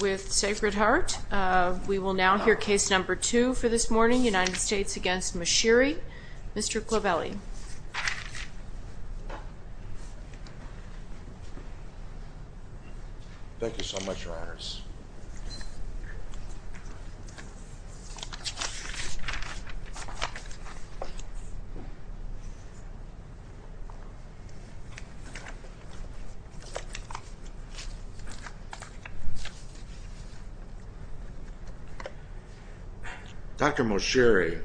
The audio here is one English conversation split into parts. with Sacred Heart. We will now hear case number two for this morning, United States v. Moshiri. Mr. Clovelly. Thank you so much, Your Honors. Dr. Moshiri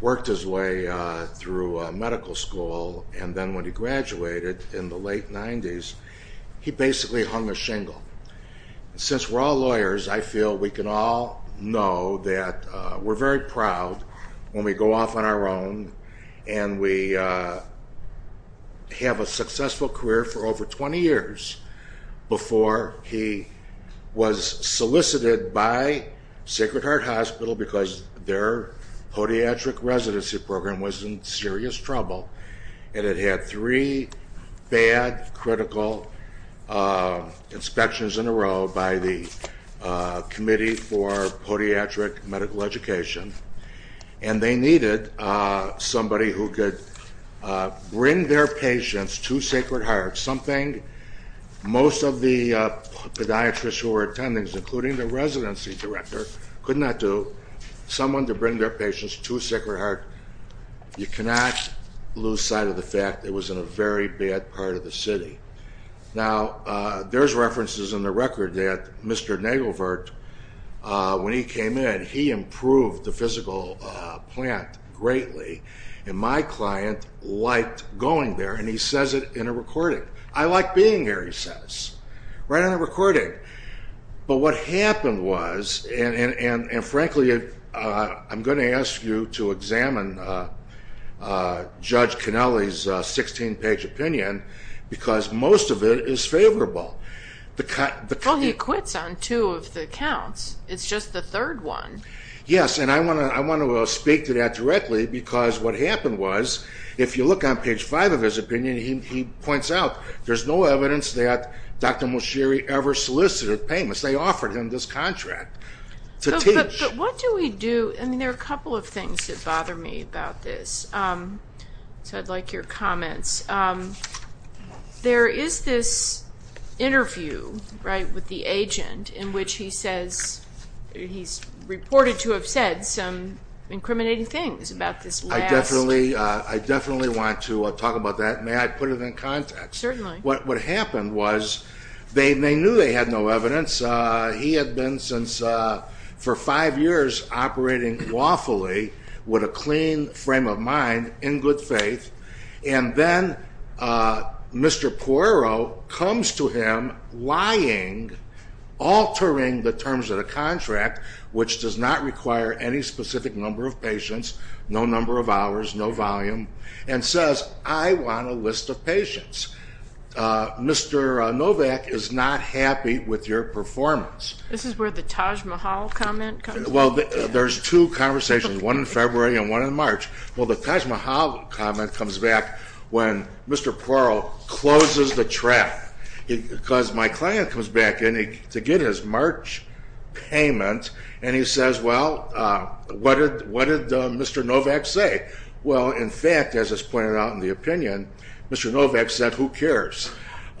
worked his way through medical school and then when he graduated in the late 90s, he basically hung a shingle. Since we're all lawyers, I feel we can all know that we're very proud when we go off on our own and we have a successful career for over 20 years before he was solicited by Sacred Heart Hospital because their podiatric residency program was in serious trouble and it had three bad, critical inspections in a row by the Committee for Podiatric Medical Education and they needed somebody who could bring their patients to Sacred Heart. Something most of the podiatrists who were attending, including the residency director, could not do. Someone to bring their patients to Sacred Heart. You cannot lose sight of the fact that it was in a very bad part of the city. Now, there's references in the record that Mr. Nagelvert, when he came in, he improved the physical plant greatly and my client liked going there and he says it in a recording. I like being here, he says, right on a recording. But what happened was, and frankly, I'm going to ask you to examine Judge Cannelli's 16-page opinion because most of it is favorable. Well, he quits on two of the counts. It's just the third one. Yes, and I want to speak to that directly because what happened was, if you look on page five of his opinion, he points out there's no evidence that Dr. Moshiri ever solicited payments. They offered him this contract to teach. But what do we do? I mean, there are a couple of things that bother me about this. So I'd like your comments. There is this interview, right, with the agent in which he says he's reported to have said some incriminating things about this last... I definitely want to talk about that. May I put it in context? Certainly. What happened was they knew they had no evidence. He had been, for five years, operating lawfully with a clean frame of mind, in good faith. And then Mr. Poirot comes to him lying, altering the terms of the contract, which does not require any specific number of patients, no number of hours, no volume, and says, I want a list of patients. Mr. Novak is not happy with your performance. This is where the Taj Mahal comment comes in. Well, there's two conversations, one in February and one in March. Well, the Taj Mahal comment comes back when Mr. Poirot closes the trap. Because my client comes back in to get his March payment, and he says, well, what did Mr. Novak say? Well, in fact, as it's pointed out in the opinion, Mr. Novak said, who cares?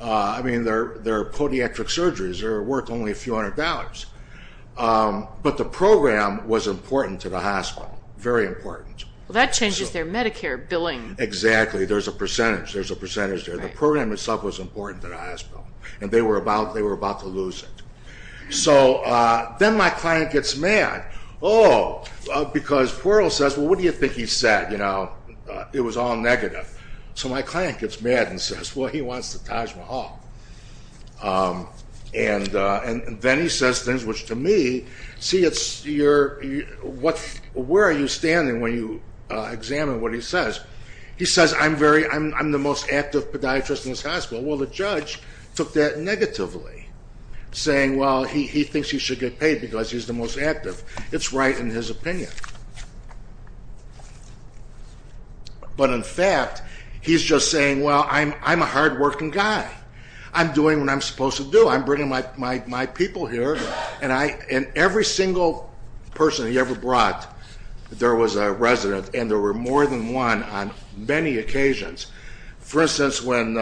I mean, they're podiatric surgeries, they're worth only a few hundred dollars. But the program was important to the hospital, very important. Well, that changes their Medicare billing. Exactly, there's a percentage, there's a percentage there. The program itself was important to the hospital, and they were about to lose it. So then my client gets mad. Oh, because Poirot says, well, what do you think he said? It was all negative. So my client gets mad and says, well, he wants the Taj Mahal. And then he says things which to me, see, it's your, where are you standing when you examine what he says? He says, I'm the most active podiatrist in this hospital. Well, the judge took that negatively, saying, well, he thinks he should get paid because he's the most active. It's right in his opinion. But in fact, he's just saying, well, I'm a hardworking guy. I'm doing what I'm supposed to do. I'm bringing my people here. And every single person he ever brought, there was a resident, and there were more than one on many occasions. For instance, when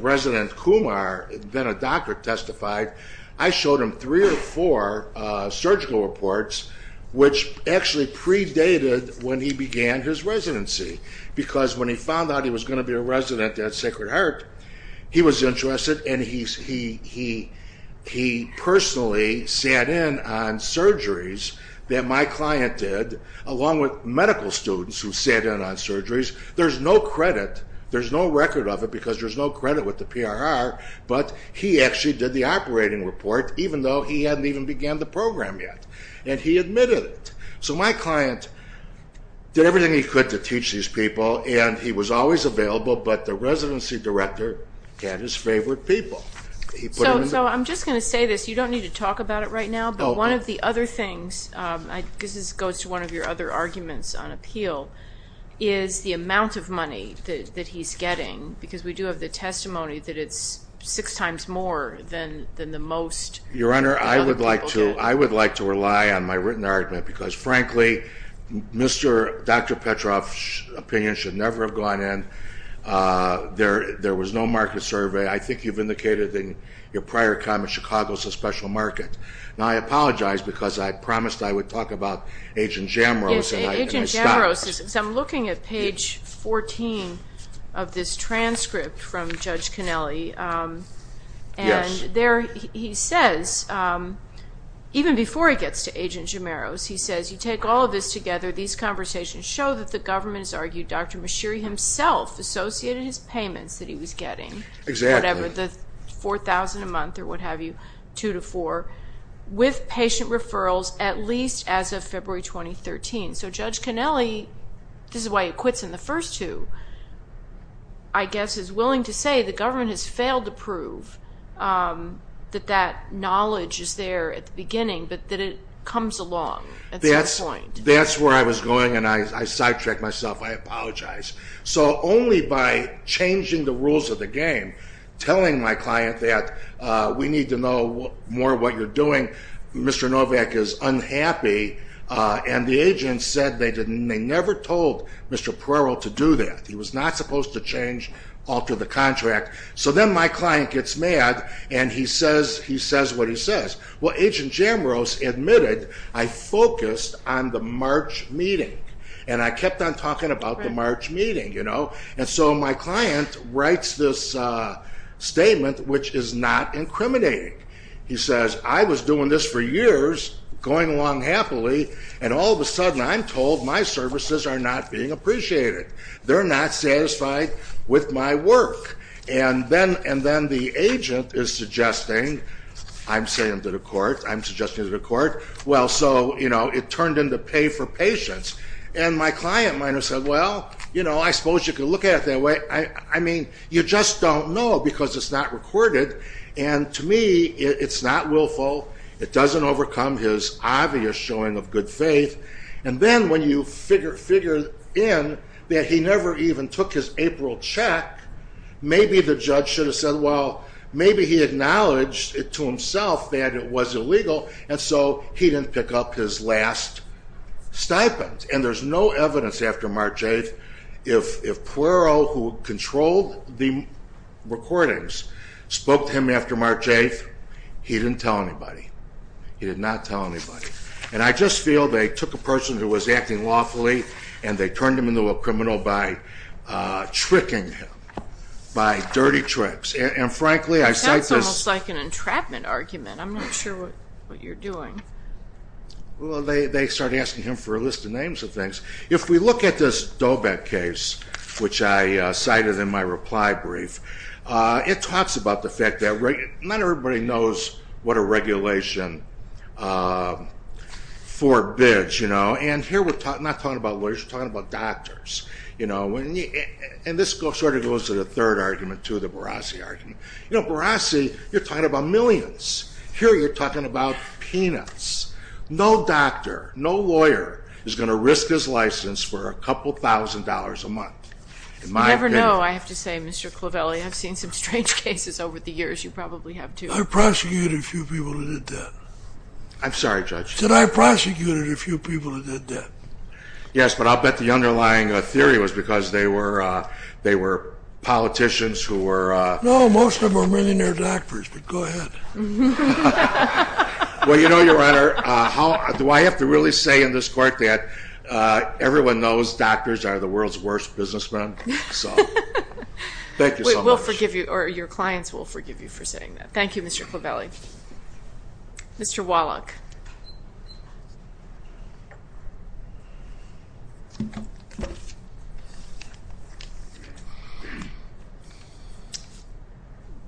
resident Kumar, then a doctor, testified, I showed him three or four surgical reports, which actually predated when he began his residency, because when he found out he was going to be a resident at Sacred Heart, he was interested, and he personally sat in on surgeries that my client did, along with medical students who sat in on surgeries. There's no credit, there's no record of it, because there's no credit with the PRR, but he actually did the operating report, even though he hadn't even began the program yet. And he admitted it. So my client did everything he could to teach these people, and he was always available, but the residency director had his favorite people. So I'm just going to say this. You don't need to talk about it right now, but one of the other things, this goes to one of your other arguments on appeal, is the amount of money that he's getting, because we do have the testimony that it's six times more than the most other people get. Your Honor, I would like to rely on my written argument, because, frankly, Dr. Petrov's opinion should never have gone in. There was no market survey. I think you've indicated in your prior comment, Chicago's a special market. Now, I apologize, because I promised I would talk about Agent Jamaros, and I stopped. Agent Jamaros, because I'm looking at page 14 of this transcript from Judge Connelly, and there he says, even before he gets to Agent Jamaros, he says, You take all of this together. These conversations show that the government has argued Dr. Mashiri himself associated his payments that he was getting, whatever, the $4,000 a month or what have you, two to four, with patient referrals at least as of February 2013. So Judge Connelly, this is why he quits in the first two, I guess is willing to say the government has failed to prove that that knowledge is there at the beginning, but that it comes along at some point. That's where I was going, and I sidetracked myself. I apologize. So only by changing the rules of the game, telling my client that we need to know more what you're doing, Mr. Novak is unhappy, and the agents said they never told Mr. Puerro to do that. He was not supposed to change, alter the contract. So then my client gets mad, and he says what he says. Well, Agent Jamaros admitted, I focused on the March meeting, and I kept on talking about the March meeting. And so my client writes this statement, which is not incriminating. He says, I was doing this for years, going along happily, and all of a sudden I'm told my services are not being appreciated. They're not satisfied with my work. And then the agent is suggesting, I'm saying to the court, I'm suggesting to the court, well, so, you know, it turned into pay for patience. And my client might have said, well, you know, I suppose you could look at it that way. I mean, you just don't know because it's not recorded, and to me it's not willful. It doesn't overcome his obvious showing of good faith. And then when you figure in that he never even took his April check, maybe the judge should have said, well, maybe he acknowledged it to himself that it was illegal, and so he didn't pick up his last stipend. And there's no evidence after March 8th. If Puero, who controlled the recordings, spoke to him after March 8th, he didn't tell anybody. He did not tell anybody. And I just feel they took a person who was acting lawfully and they turned him into a criminal by tricking him, by dirty tricks. And, frankly, I cite this. That sounds almost like an entrapment argument. I'm not sure what you're doing. Well, they started asking him for a list of names of things. If we look at this Dobet case, which I cited in my reply brief, it talks about the fact that not everybody knows what a regulation forbids. And here we're not talking about lawyers. We're talking about doctors. And this sort of goes to the third argument, too, the Barassi argument. You know, Barassi, you're talking about millions. Here you're talking about peanuts. No doctor, no lawyer is going to risk his license for a couple thousand dollars a month. You never know, I have to say, Mr. Clavelli. I've seen some strange cases over the years. You probably have, too. I prosecuted a few people who did that. I'm sorry, Judge. I said I prosecuted a few people who did that. Yes, but I'll bet the underlying theory was because they were politicians who were... No, most of them were millionaire doctors, but go ahead. Well, you know, Your Honor, do I have to really say in this court that everyone knows doctors are the world's worst businessmen? So thank you so much. We'll forgive you, or your clients will forgive you for saying that. Thank you, Mr. Clavelli. Mr. Wallach.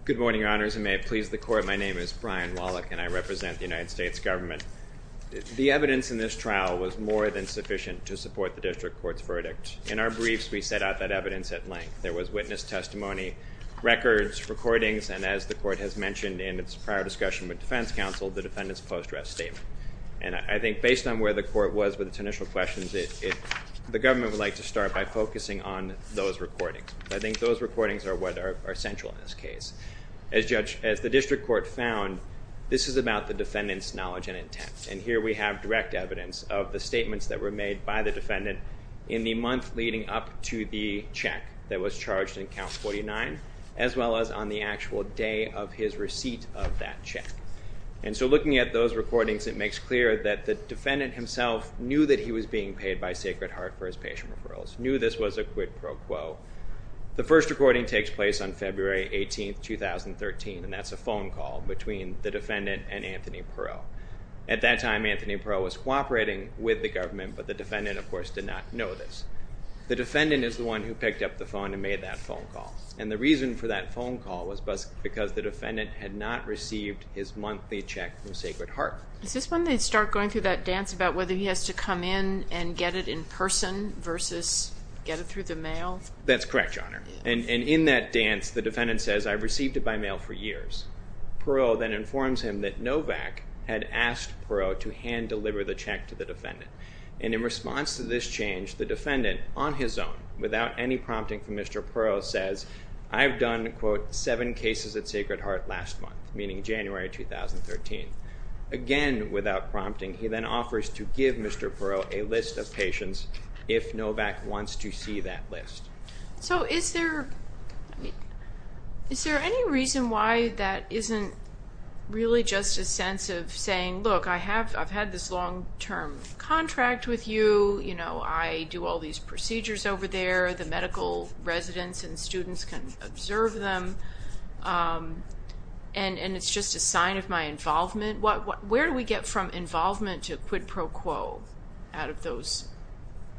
Good morning, Your Honors, and may it please the Court. My name is Brian Wallach, and I represent the United States government. The evidence in this trial was more than sufficient to support the district court's verdict. In our briefs, we set out that evidence at length. There was witness testimony, records, recordings, and as the court has mentioned in its prior discussion with defense counsel, the defendant's post-dress statement. And I think based on where the court was with its initial questions, the government would like to start by focusing on those recordings. I think those recordings are what are central in this case. As the district court found, this is about the defendant's knowledge and intent. And here we have direct evidence of the statements that were made by the defendant in the month leading up to the check that was charged in Count 49, as well as on the actual day of his receipt of that check. And so looking at those recordings, it makes clear that the defendant himself knew that he was being paid by Sacred Heart for his patient referrals, knew this was a quid pro quo. The first recording takes place on February 18, 2013, and that's a phone call between the defendant and Anthony Perreault. At that time, Anthony Perreault was cooperating with the government, but the defendant, of course, did not know this. The defendant is the one who picked up the phone and made that phone call. And the reason for that phone call was because the defendant had not received his monthly check from Sacred Heart. Is this when they start going through that dance about whether he has to come in and get it in person versus get it through the mail? That's correct, Your Honor. And in that dance, the defendant says, I received it by mail for years. Perreault then informs him that Novak had asked Perreault to hand deliver the check to the defendant. And in response to this change, the defendant, on his own, without any prompting from Mr. Perreault, says, I've done, quote, 7 cases at Sacred Heart last month, meaning January 2013. Again, without prompting, he then offers to give Mr. Perreault a list of patients if Novak wants to see that list. So is there any reason why that isn't really just a sense of saying, look, I've had this long-term contract with you. I do all these procedures over there. The medical residents and students can observe them. And it's just a sign of my involvement. Where do we get from involvement to quid pro quo out of those calls?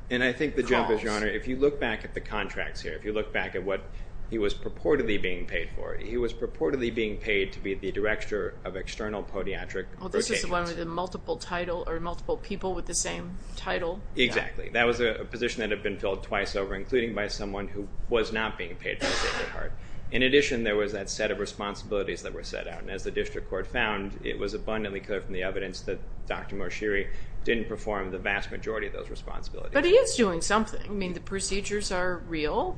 And I think the jump is, Your Honor, if you look back at the contracts here, if you look back at what he was purportedly being paid for, he was purportedly being paid to be the director of external podiatric rotations. Well, this is one with a multiple title or multiple people with the same title. Exactly. That was a position that had been filled twice over, including by someone who was not being paid by Sacred Heart. In addition, there was that set of responsibilities that were set out. And as the district court found, it was abundantly clear from the evidence that Dr. Morshiri didn't perform the vast majority of those responsibilities. But he is doing something. I mean, the procedures are real.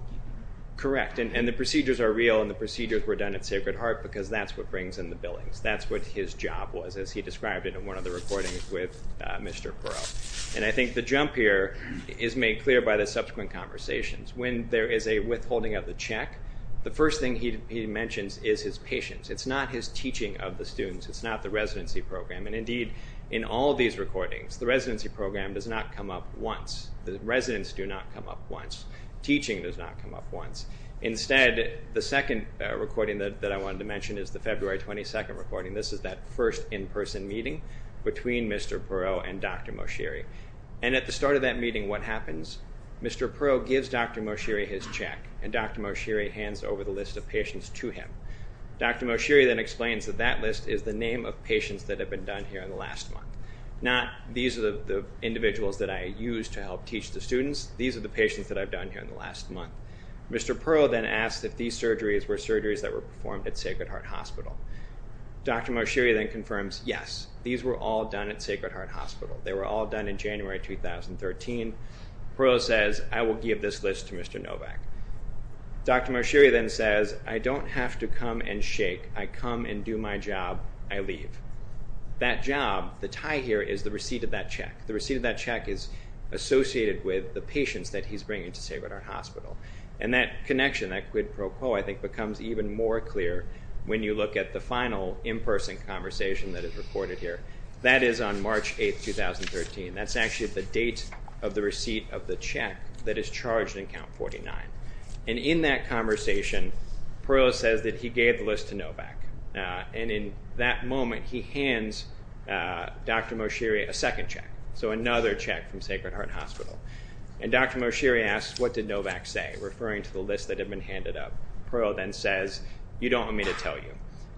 Correct. And the procedures are real, and the procedures were done at Sacred Heart because that's what brings in the billings. That's what his job was, as he described it in one of the recordings with Mr. Perot. And I think the jump here is made clear by the subsequent conversations. When there is a withholding of the check, the first thing he mentions is his patience. It's not his teaching of the students. It's not the residency program. And, indeed, in all of these recordings, the residency program does not come up once. The residents do not come up once. Teaching does not come up once. Instead, the second recording that I wanted to mention is the February 22 recording. This is that first in-person meeting between Mr. Perot and Dr. Morshiri. And at the start of that meeting, what happens? Mr. Perot gives Dr. Morshiri his check, and Dr. Morshiri hands over the list of patients to him. Dr. Morshiri then explains that that list is the name of patients that have been done here in the last month, not these are the individuals that I used to help teach the students. These are the patients that I've done here in the last month. Mr. Perot then asks if these surgeries were surgeries that were performed at Sacred Heart Hospital. Dr. Morshiri then confirms, yes, these were all done at Sacred Heart Hospital. They were all done in January 2013. Perot says, I will give this list to Mr. Novak. Dr. Morshiri then says, I don't have to come and shake. I come and do my job. I leave. That job, the tie here is the receipt of that check. The receipt of that check is associated with the patients that he's bringing to Sacred Heart Hospital. And that connection, that quid pro quo, I think, becomes even more clear when you look at the final in-person conversation that is recorded here. That is on March 8, 2013. That's actually the date of the receipt of the check that is charged in Count 49. And in that conversation, Perot says that he gave the list to Novak. And in that moment, he hands Dr. Morshiri a second check, so another check from Sacred Heart Hospital. And Dr. Morshiri asks, what did Novak say, referring to the list that had been handed up. Perot then says, you don't want me to tell you.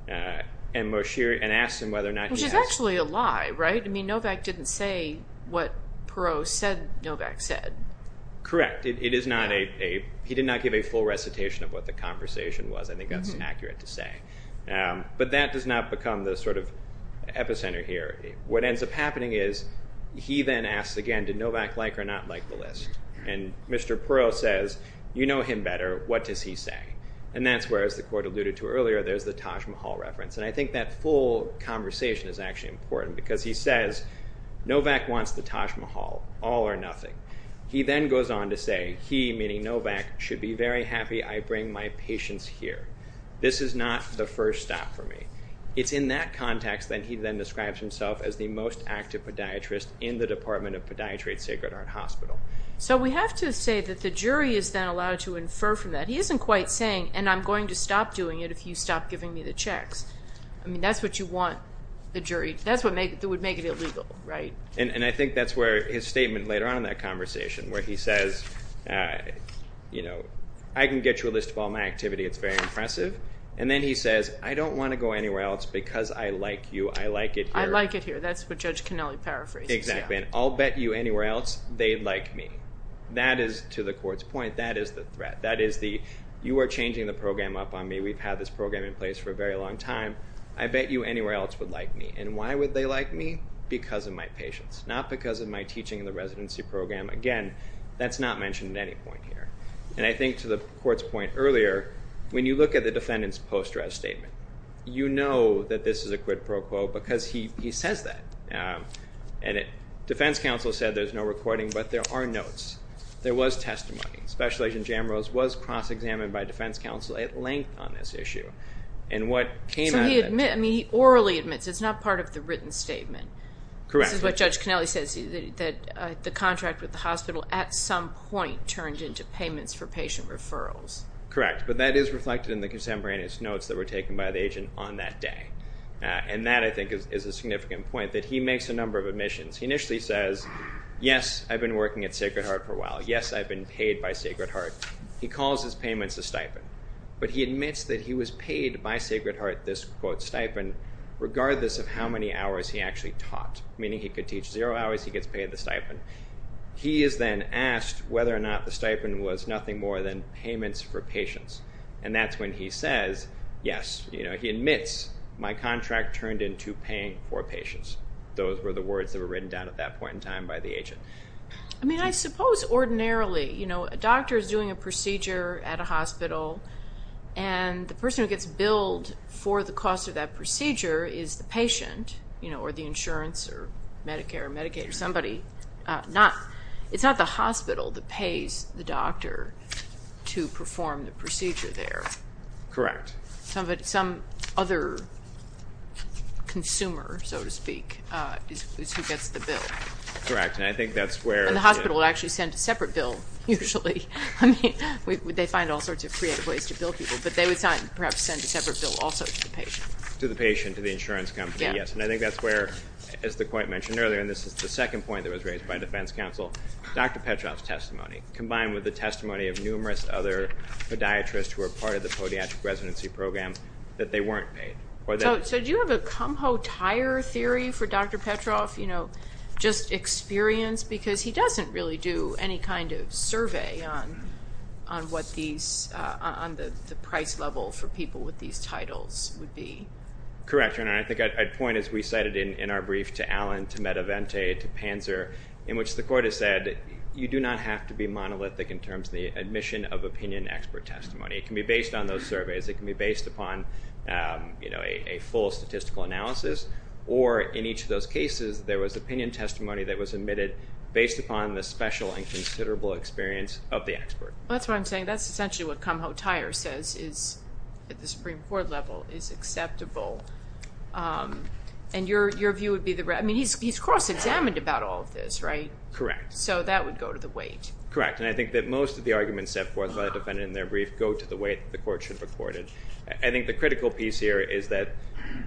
And asks him whether or not he has. So that's actually a lie, right? I mean, Novak didn't say what Perot said Novak said. Correct. He did not give a full recitation of what the conversation was. I think that's accurate to say. But that does not become the sort of epicenter here. What ends up happening is he then asks again, did Novak like or not like the list? And Mr. Perot says, you know him better. What does he say? And that's where, as the Court alluded to earlier, there's the Taj Mahal reference. And I think that full conversation is actually important. Because he says, Novak wants the Taj Mahal, all or nothing. He then goes on to say, he, meaning Novak, should be very happy I bring my patients here. This is not the first stop for me. It's in that context that he then describes himself as the most active podiatrist in the Department of Podiatry at Sacred Heart Hospital. So we have to say that the jury is then allowed to infer from that. He isn't quite saying, and I'm going to stop doing it if you stop giving me the checks. I mean, that's what you want the jury to do. That's what would make it illegal, right? And I think that's where his statement later on in that conversation, where he says, you know, I can get you a list of all my activity. It's very impressive. And then he says, I don't want to go anywhere else because I like you. I like it here. I like it here. That's what Judge Cannelli paraphrased. Exactly. And I'll bet you anywhere else they like me. That is, to the court's point, that is the threat. That is the, you are changing the program up on me. We've had this program in place for a very long time. I bet you anywhere else would like me. And why would they like me? Because of my patients, not because of my teaching in the residency program. Again, that's not mentioned at any point here. And I think to the court's point earlier, when you look at the defendant's post-dress statement, you know that this is a quid pro quo because he says that. And defense counsel said there's no recording, but there are notes. There was testimony. Special Agent Jamrose was cross-examined by defense counsel at length on this issue. And what came out of that. So he admits, I mean, he orally admits. It's not part of the written statement. Correct. This is what Judge Cannelli says, that the contract with the hospital at some point turned into payments for patient referrals. Correct. But that is reflected in the contemporaneous notes that were taken by the agent on that day. And that, I think, is a significant point, that he makes a number of admissions. He initially says, yes, I've been working at Sacred Heart for a while. Yes, I've been paid by Sacred Heart. He calls his payments a stipend. But he admits that he was paid by Sacred Heart, this quote, stipend, regardless of how many hours he actually taught. Meaning he could teach zero hours, he gets paid the stipend. He is then asked whether or not the stipend was nothing more than payments for patients. And that's when he says, yes, you know, he admits, my contract turned into paying for patients. Those were the words that were written down at that point in time by the agent. I mean, I suppose ordinarily, you know, a doctor is doing a procedure at a hospital, and the person who gets billed for the cost of that procedure is the patient, you know, or the insurance or Medicare or Medicaid or somebody. It's not the hospital that pays the doctor to perform the procedure there. Correct. Some other consumer, so to speak, is who gets the bill. Correct, and I think that's where. And the hospital will actually send a separate bill usually. I mean, they find all sorts of creative ways to bill people, but they would perhaps send a separate bill also to the patient. To the patient, to the insurance company, yes. And I think that's where, as the point mentioned earlier, and this is the second point that was raised by defense counsel, Dr. Petroff's testimony, combined with the testimony of numerous other podiatrists who were part of the Podiatric Residency Program, that they weren't paid. So do you have a cumho tire theory for Dr. Petroff, you know, just experience? Because he doesn't really do any kind of survey on what these, on the price level for people with these titles would be. Correct. And I think I'd point, as we cited in our brief, to Allen, to Medavente, to Panzer, in which the court has said you do not have to be monolithic in terms of the admission of opinion expert testimony. It can be based on those surveys. It can be based upon, you know, a full statistical analysis, or in each of those cases there was opinion testimony that was admitted based upon the special and considerable experience of the expert. That's what I'm saying. That's essentially what cumho tire says is at the Supreme Court level is acceptable, and your view would be the right. I mean, he's cross-examined about all of this, right? Correct. So that would go to the weight. Correct, and I think that most of the arguments set forth by the defendant in their brief go to the weight the court should record it. I think the critical piece here is that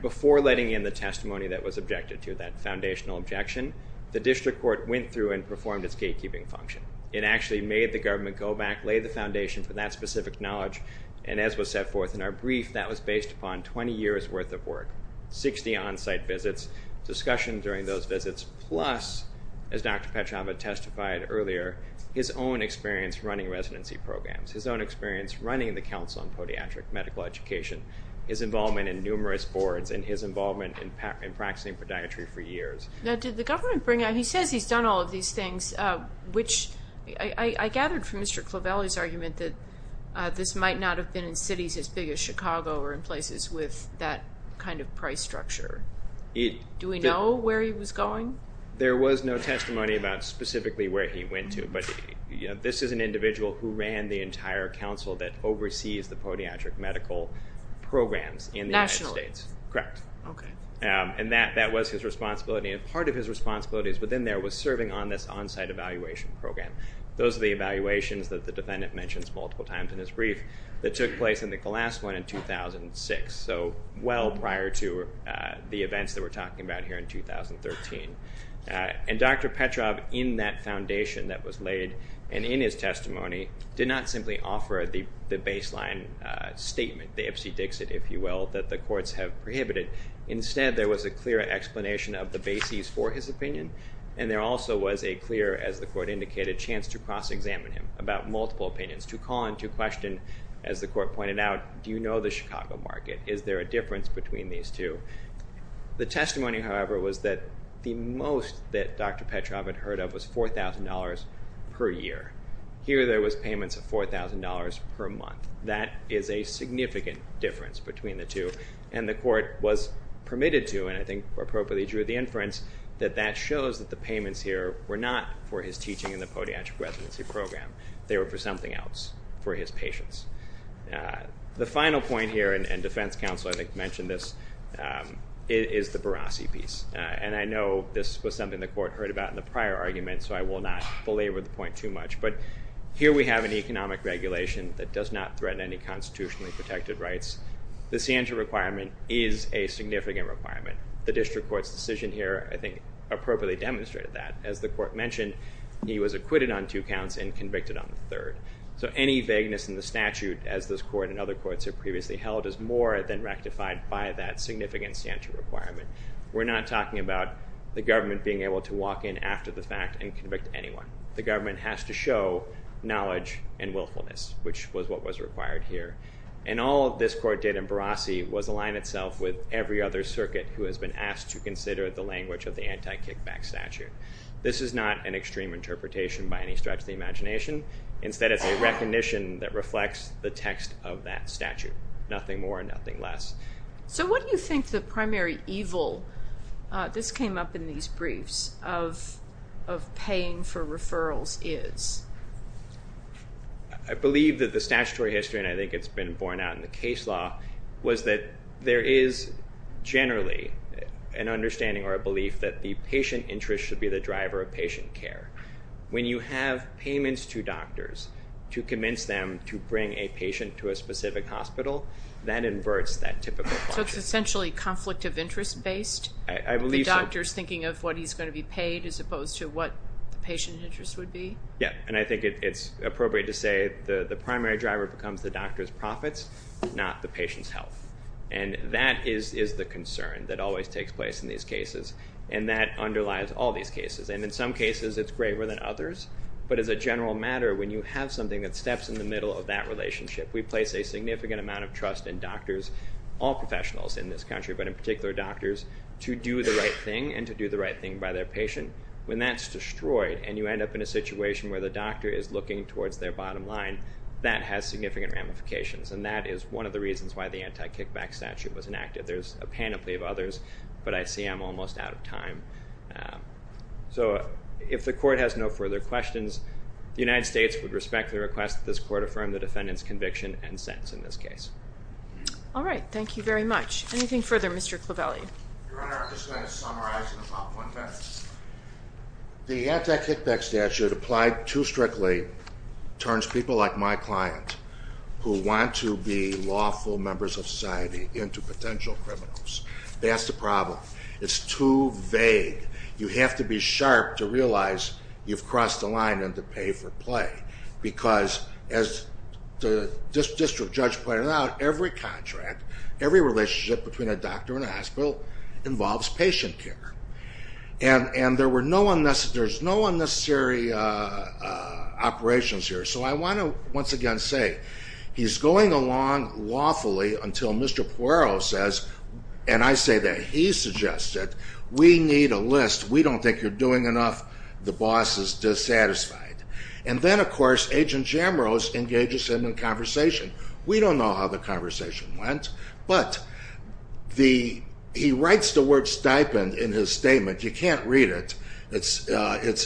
before letting in the testimony that was objected to, that foundational objection, the district court went through and performed its gatekeeping function. It actually made the government go back, laid the foundation for that specific knowledge, and as was set forth in our brief, that was based upon 20 years' worth of work, 60 on-site visits, discussion during those visits, plus, as Dr. Petrava testified earlier, his own experience running residency programs, his own experience running the Council on Podiatric Medical Education, his involvement in numerous boards, and his involvement in practicing podiatry for years. Now, did the government bring out he says he's done all of these things, which I gathered from Mr. Clavelli's argument that this might not have been in cities as big as Chicago or in places with that kind of price structure? Do we know where he was going? There was no testimony about specifically where he went to, but this is an individual who ran the entire council that oversees the podiatric medical programs in the United States. Nationally? Correct. Okay. And that was his responsibility, and part of his responsibilities within there was serving on this on-site evaluation program. Those are the evaluations that the defendant mentions multiple times in his brief that took place in the glass one in 2006, so well prior to the events that we're talking about here in 2013. And Dr. Petrava, in that foundation that was laid and in his testimony, did not simply offer the baseline statement, the Ipsy Dixit, if you will, that the courts have prohibited. Instead, there was a clear explanation of the bases for his opinion, and there also was a clear, as the court indicated, chance to cross-examine him about multiple opinions, to call into question, as the court pointed out, do you know the Chicago market? Is there a difference between these two? The testimony, however, was that the most that Dr. Petrava had heard of was $4,000 per year. Here there was payments of $4,000 per month. That is a significant difference between the two, and the court was permitted to, and I think appropriately drew the inference, that that shows that the payments here were not for his teaching in the podiatric residency program. They were for something else, for his patients. The final point here, and defense counsel, I think, mentioned this, is the Barassi piece. And I know this was something the court heard about in the prior argument, so I will not belabor the point too much. But here we have an economic regulation that does not threaten any constitutionally protected rights. The CNTR requirement is a significant requirement. The district court's decision here, I think, appropriately demonstrated that. As the court mentioned, he was acquitted on two counts and convicted on the third. So any vagueness in the statute, as this court and other courts have previously held, is more than rectified by that significant CNTR requirement. We're not talking about the government being able to walk in after the fact and convict anyone. The government has to show knowledge and willfulness, which was what was required here. And all this court did in Barassi was align itself with every other circuit who has been asked to consider the language of the anti-kickback statute. This is not an extreme interpretation by any stretch of the imagination. Instead, it's a recognition that reflects the text of that statute, nothing more and nothing less. So what do you think the primary evil, this came up in these briefs, of paying for referrals is? I believe that the statutory history, and I think it's been borne out in the case law, was that there is generally an understanding or a belief that the patient interest should be the driver of patient care. When you have payments to doctors to convince them to bring a patient to a specific hospital, that inverts that typical question. So it's essentially conflict of interest based? I believe so. The doctor's thinking of what he's going to be paid as opposed to what the patient interest would be? Yeah, and I think it's appropriate to say the primary driver becomes the doctor's profits, not the patient's health. And that is the concern that always takes place in these cases, and that underlies all these cases. And in some cases it's graver than others, but as a general matter, when you have something that steps in the middle of that relationship, we place a significant amount of trust in doctors, all professionals in this country, but in particular doctors, to do the right thing and to do the right thing by their patient. When that's destroyed and you end up in a situation where the doctor is looking towards their bottom line, that has significant ramifications, and that is one of the reasons why the anti-kickback statute was enacted. There's a panoply of others, but I see I'm almost out of time. So if the court has no further questions, the United States would respectfully request that this court affirm the defendant's conviction and sentence in this case. All right, thank you very much. Anything further, Mr. Clavelli? Your Honor, I'm just going to summarize in about one minute. The anti-kickback statute applied too strictly towards people like my client who want to be lawful members of society into potential criminals. That's the problem. It's too vague. You have to be sharp to realize you've crossed the line and to pay for play because, as the district judge pointed out, every contract, every relationship between a doctor and a hospital involves patient care. And there's no unnecessary operations here. So I want to once again say he's going along lawfully until Mr. Poirot says, and I say that he suggested, we need a list. We don't think you're doing enough. The boss is dissatisfied. And then, of course, Agent Jamrose engages him in conversation. We don't know how the conversation went, but he writes the word stipend in his statement. You can't read it. It's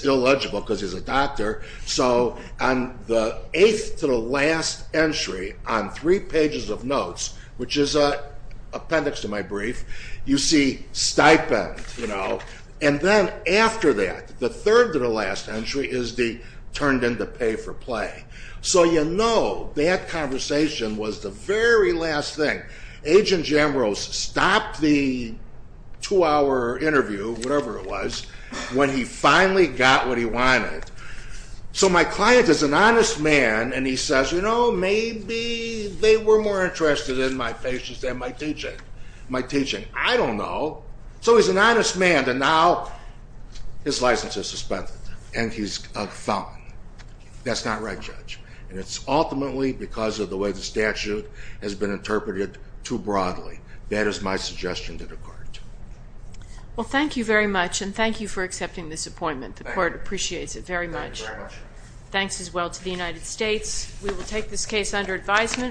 illegible because he's a doctor. So on the eighth to the last entry on three pages of notes, which is an appendix to my brief, you see stipend, you know, and then after that, the third to the last entry is the turned into pay for play. So you know that conversation was the very last thing. Agent Jamrose stopped the two-hour interview, whatever it was, when he finally got what he wanted. So my client is an honest man, and he says, you know, maybe they were more interested in my patients than my teaching. My teaching, I don't know. So he's an honest man, and now his license is suspended, and he's a felon. That's not right, Judge. And it's ultimately because of the way the statute has been interpreted too broadly. That is my suggestion to the court. Well, thank you very much, and thank you for accepting this appointment. The court appreciates it very much. Thanks as well to the United States. We will take this case under advisement.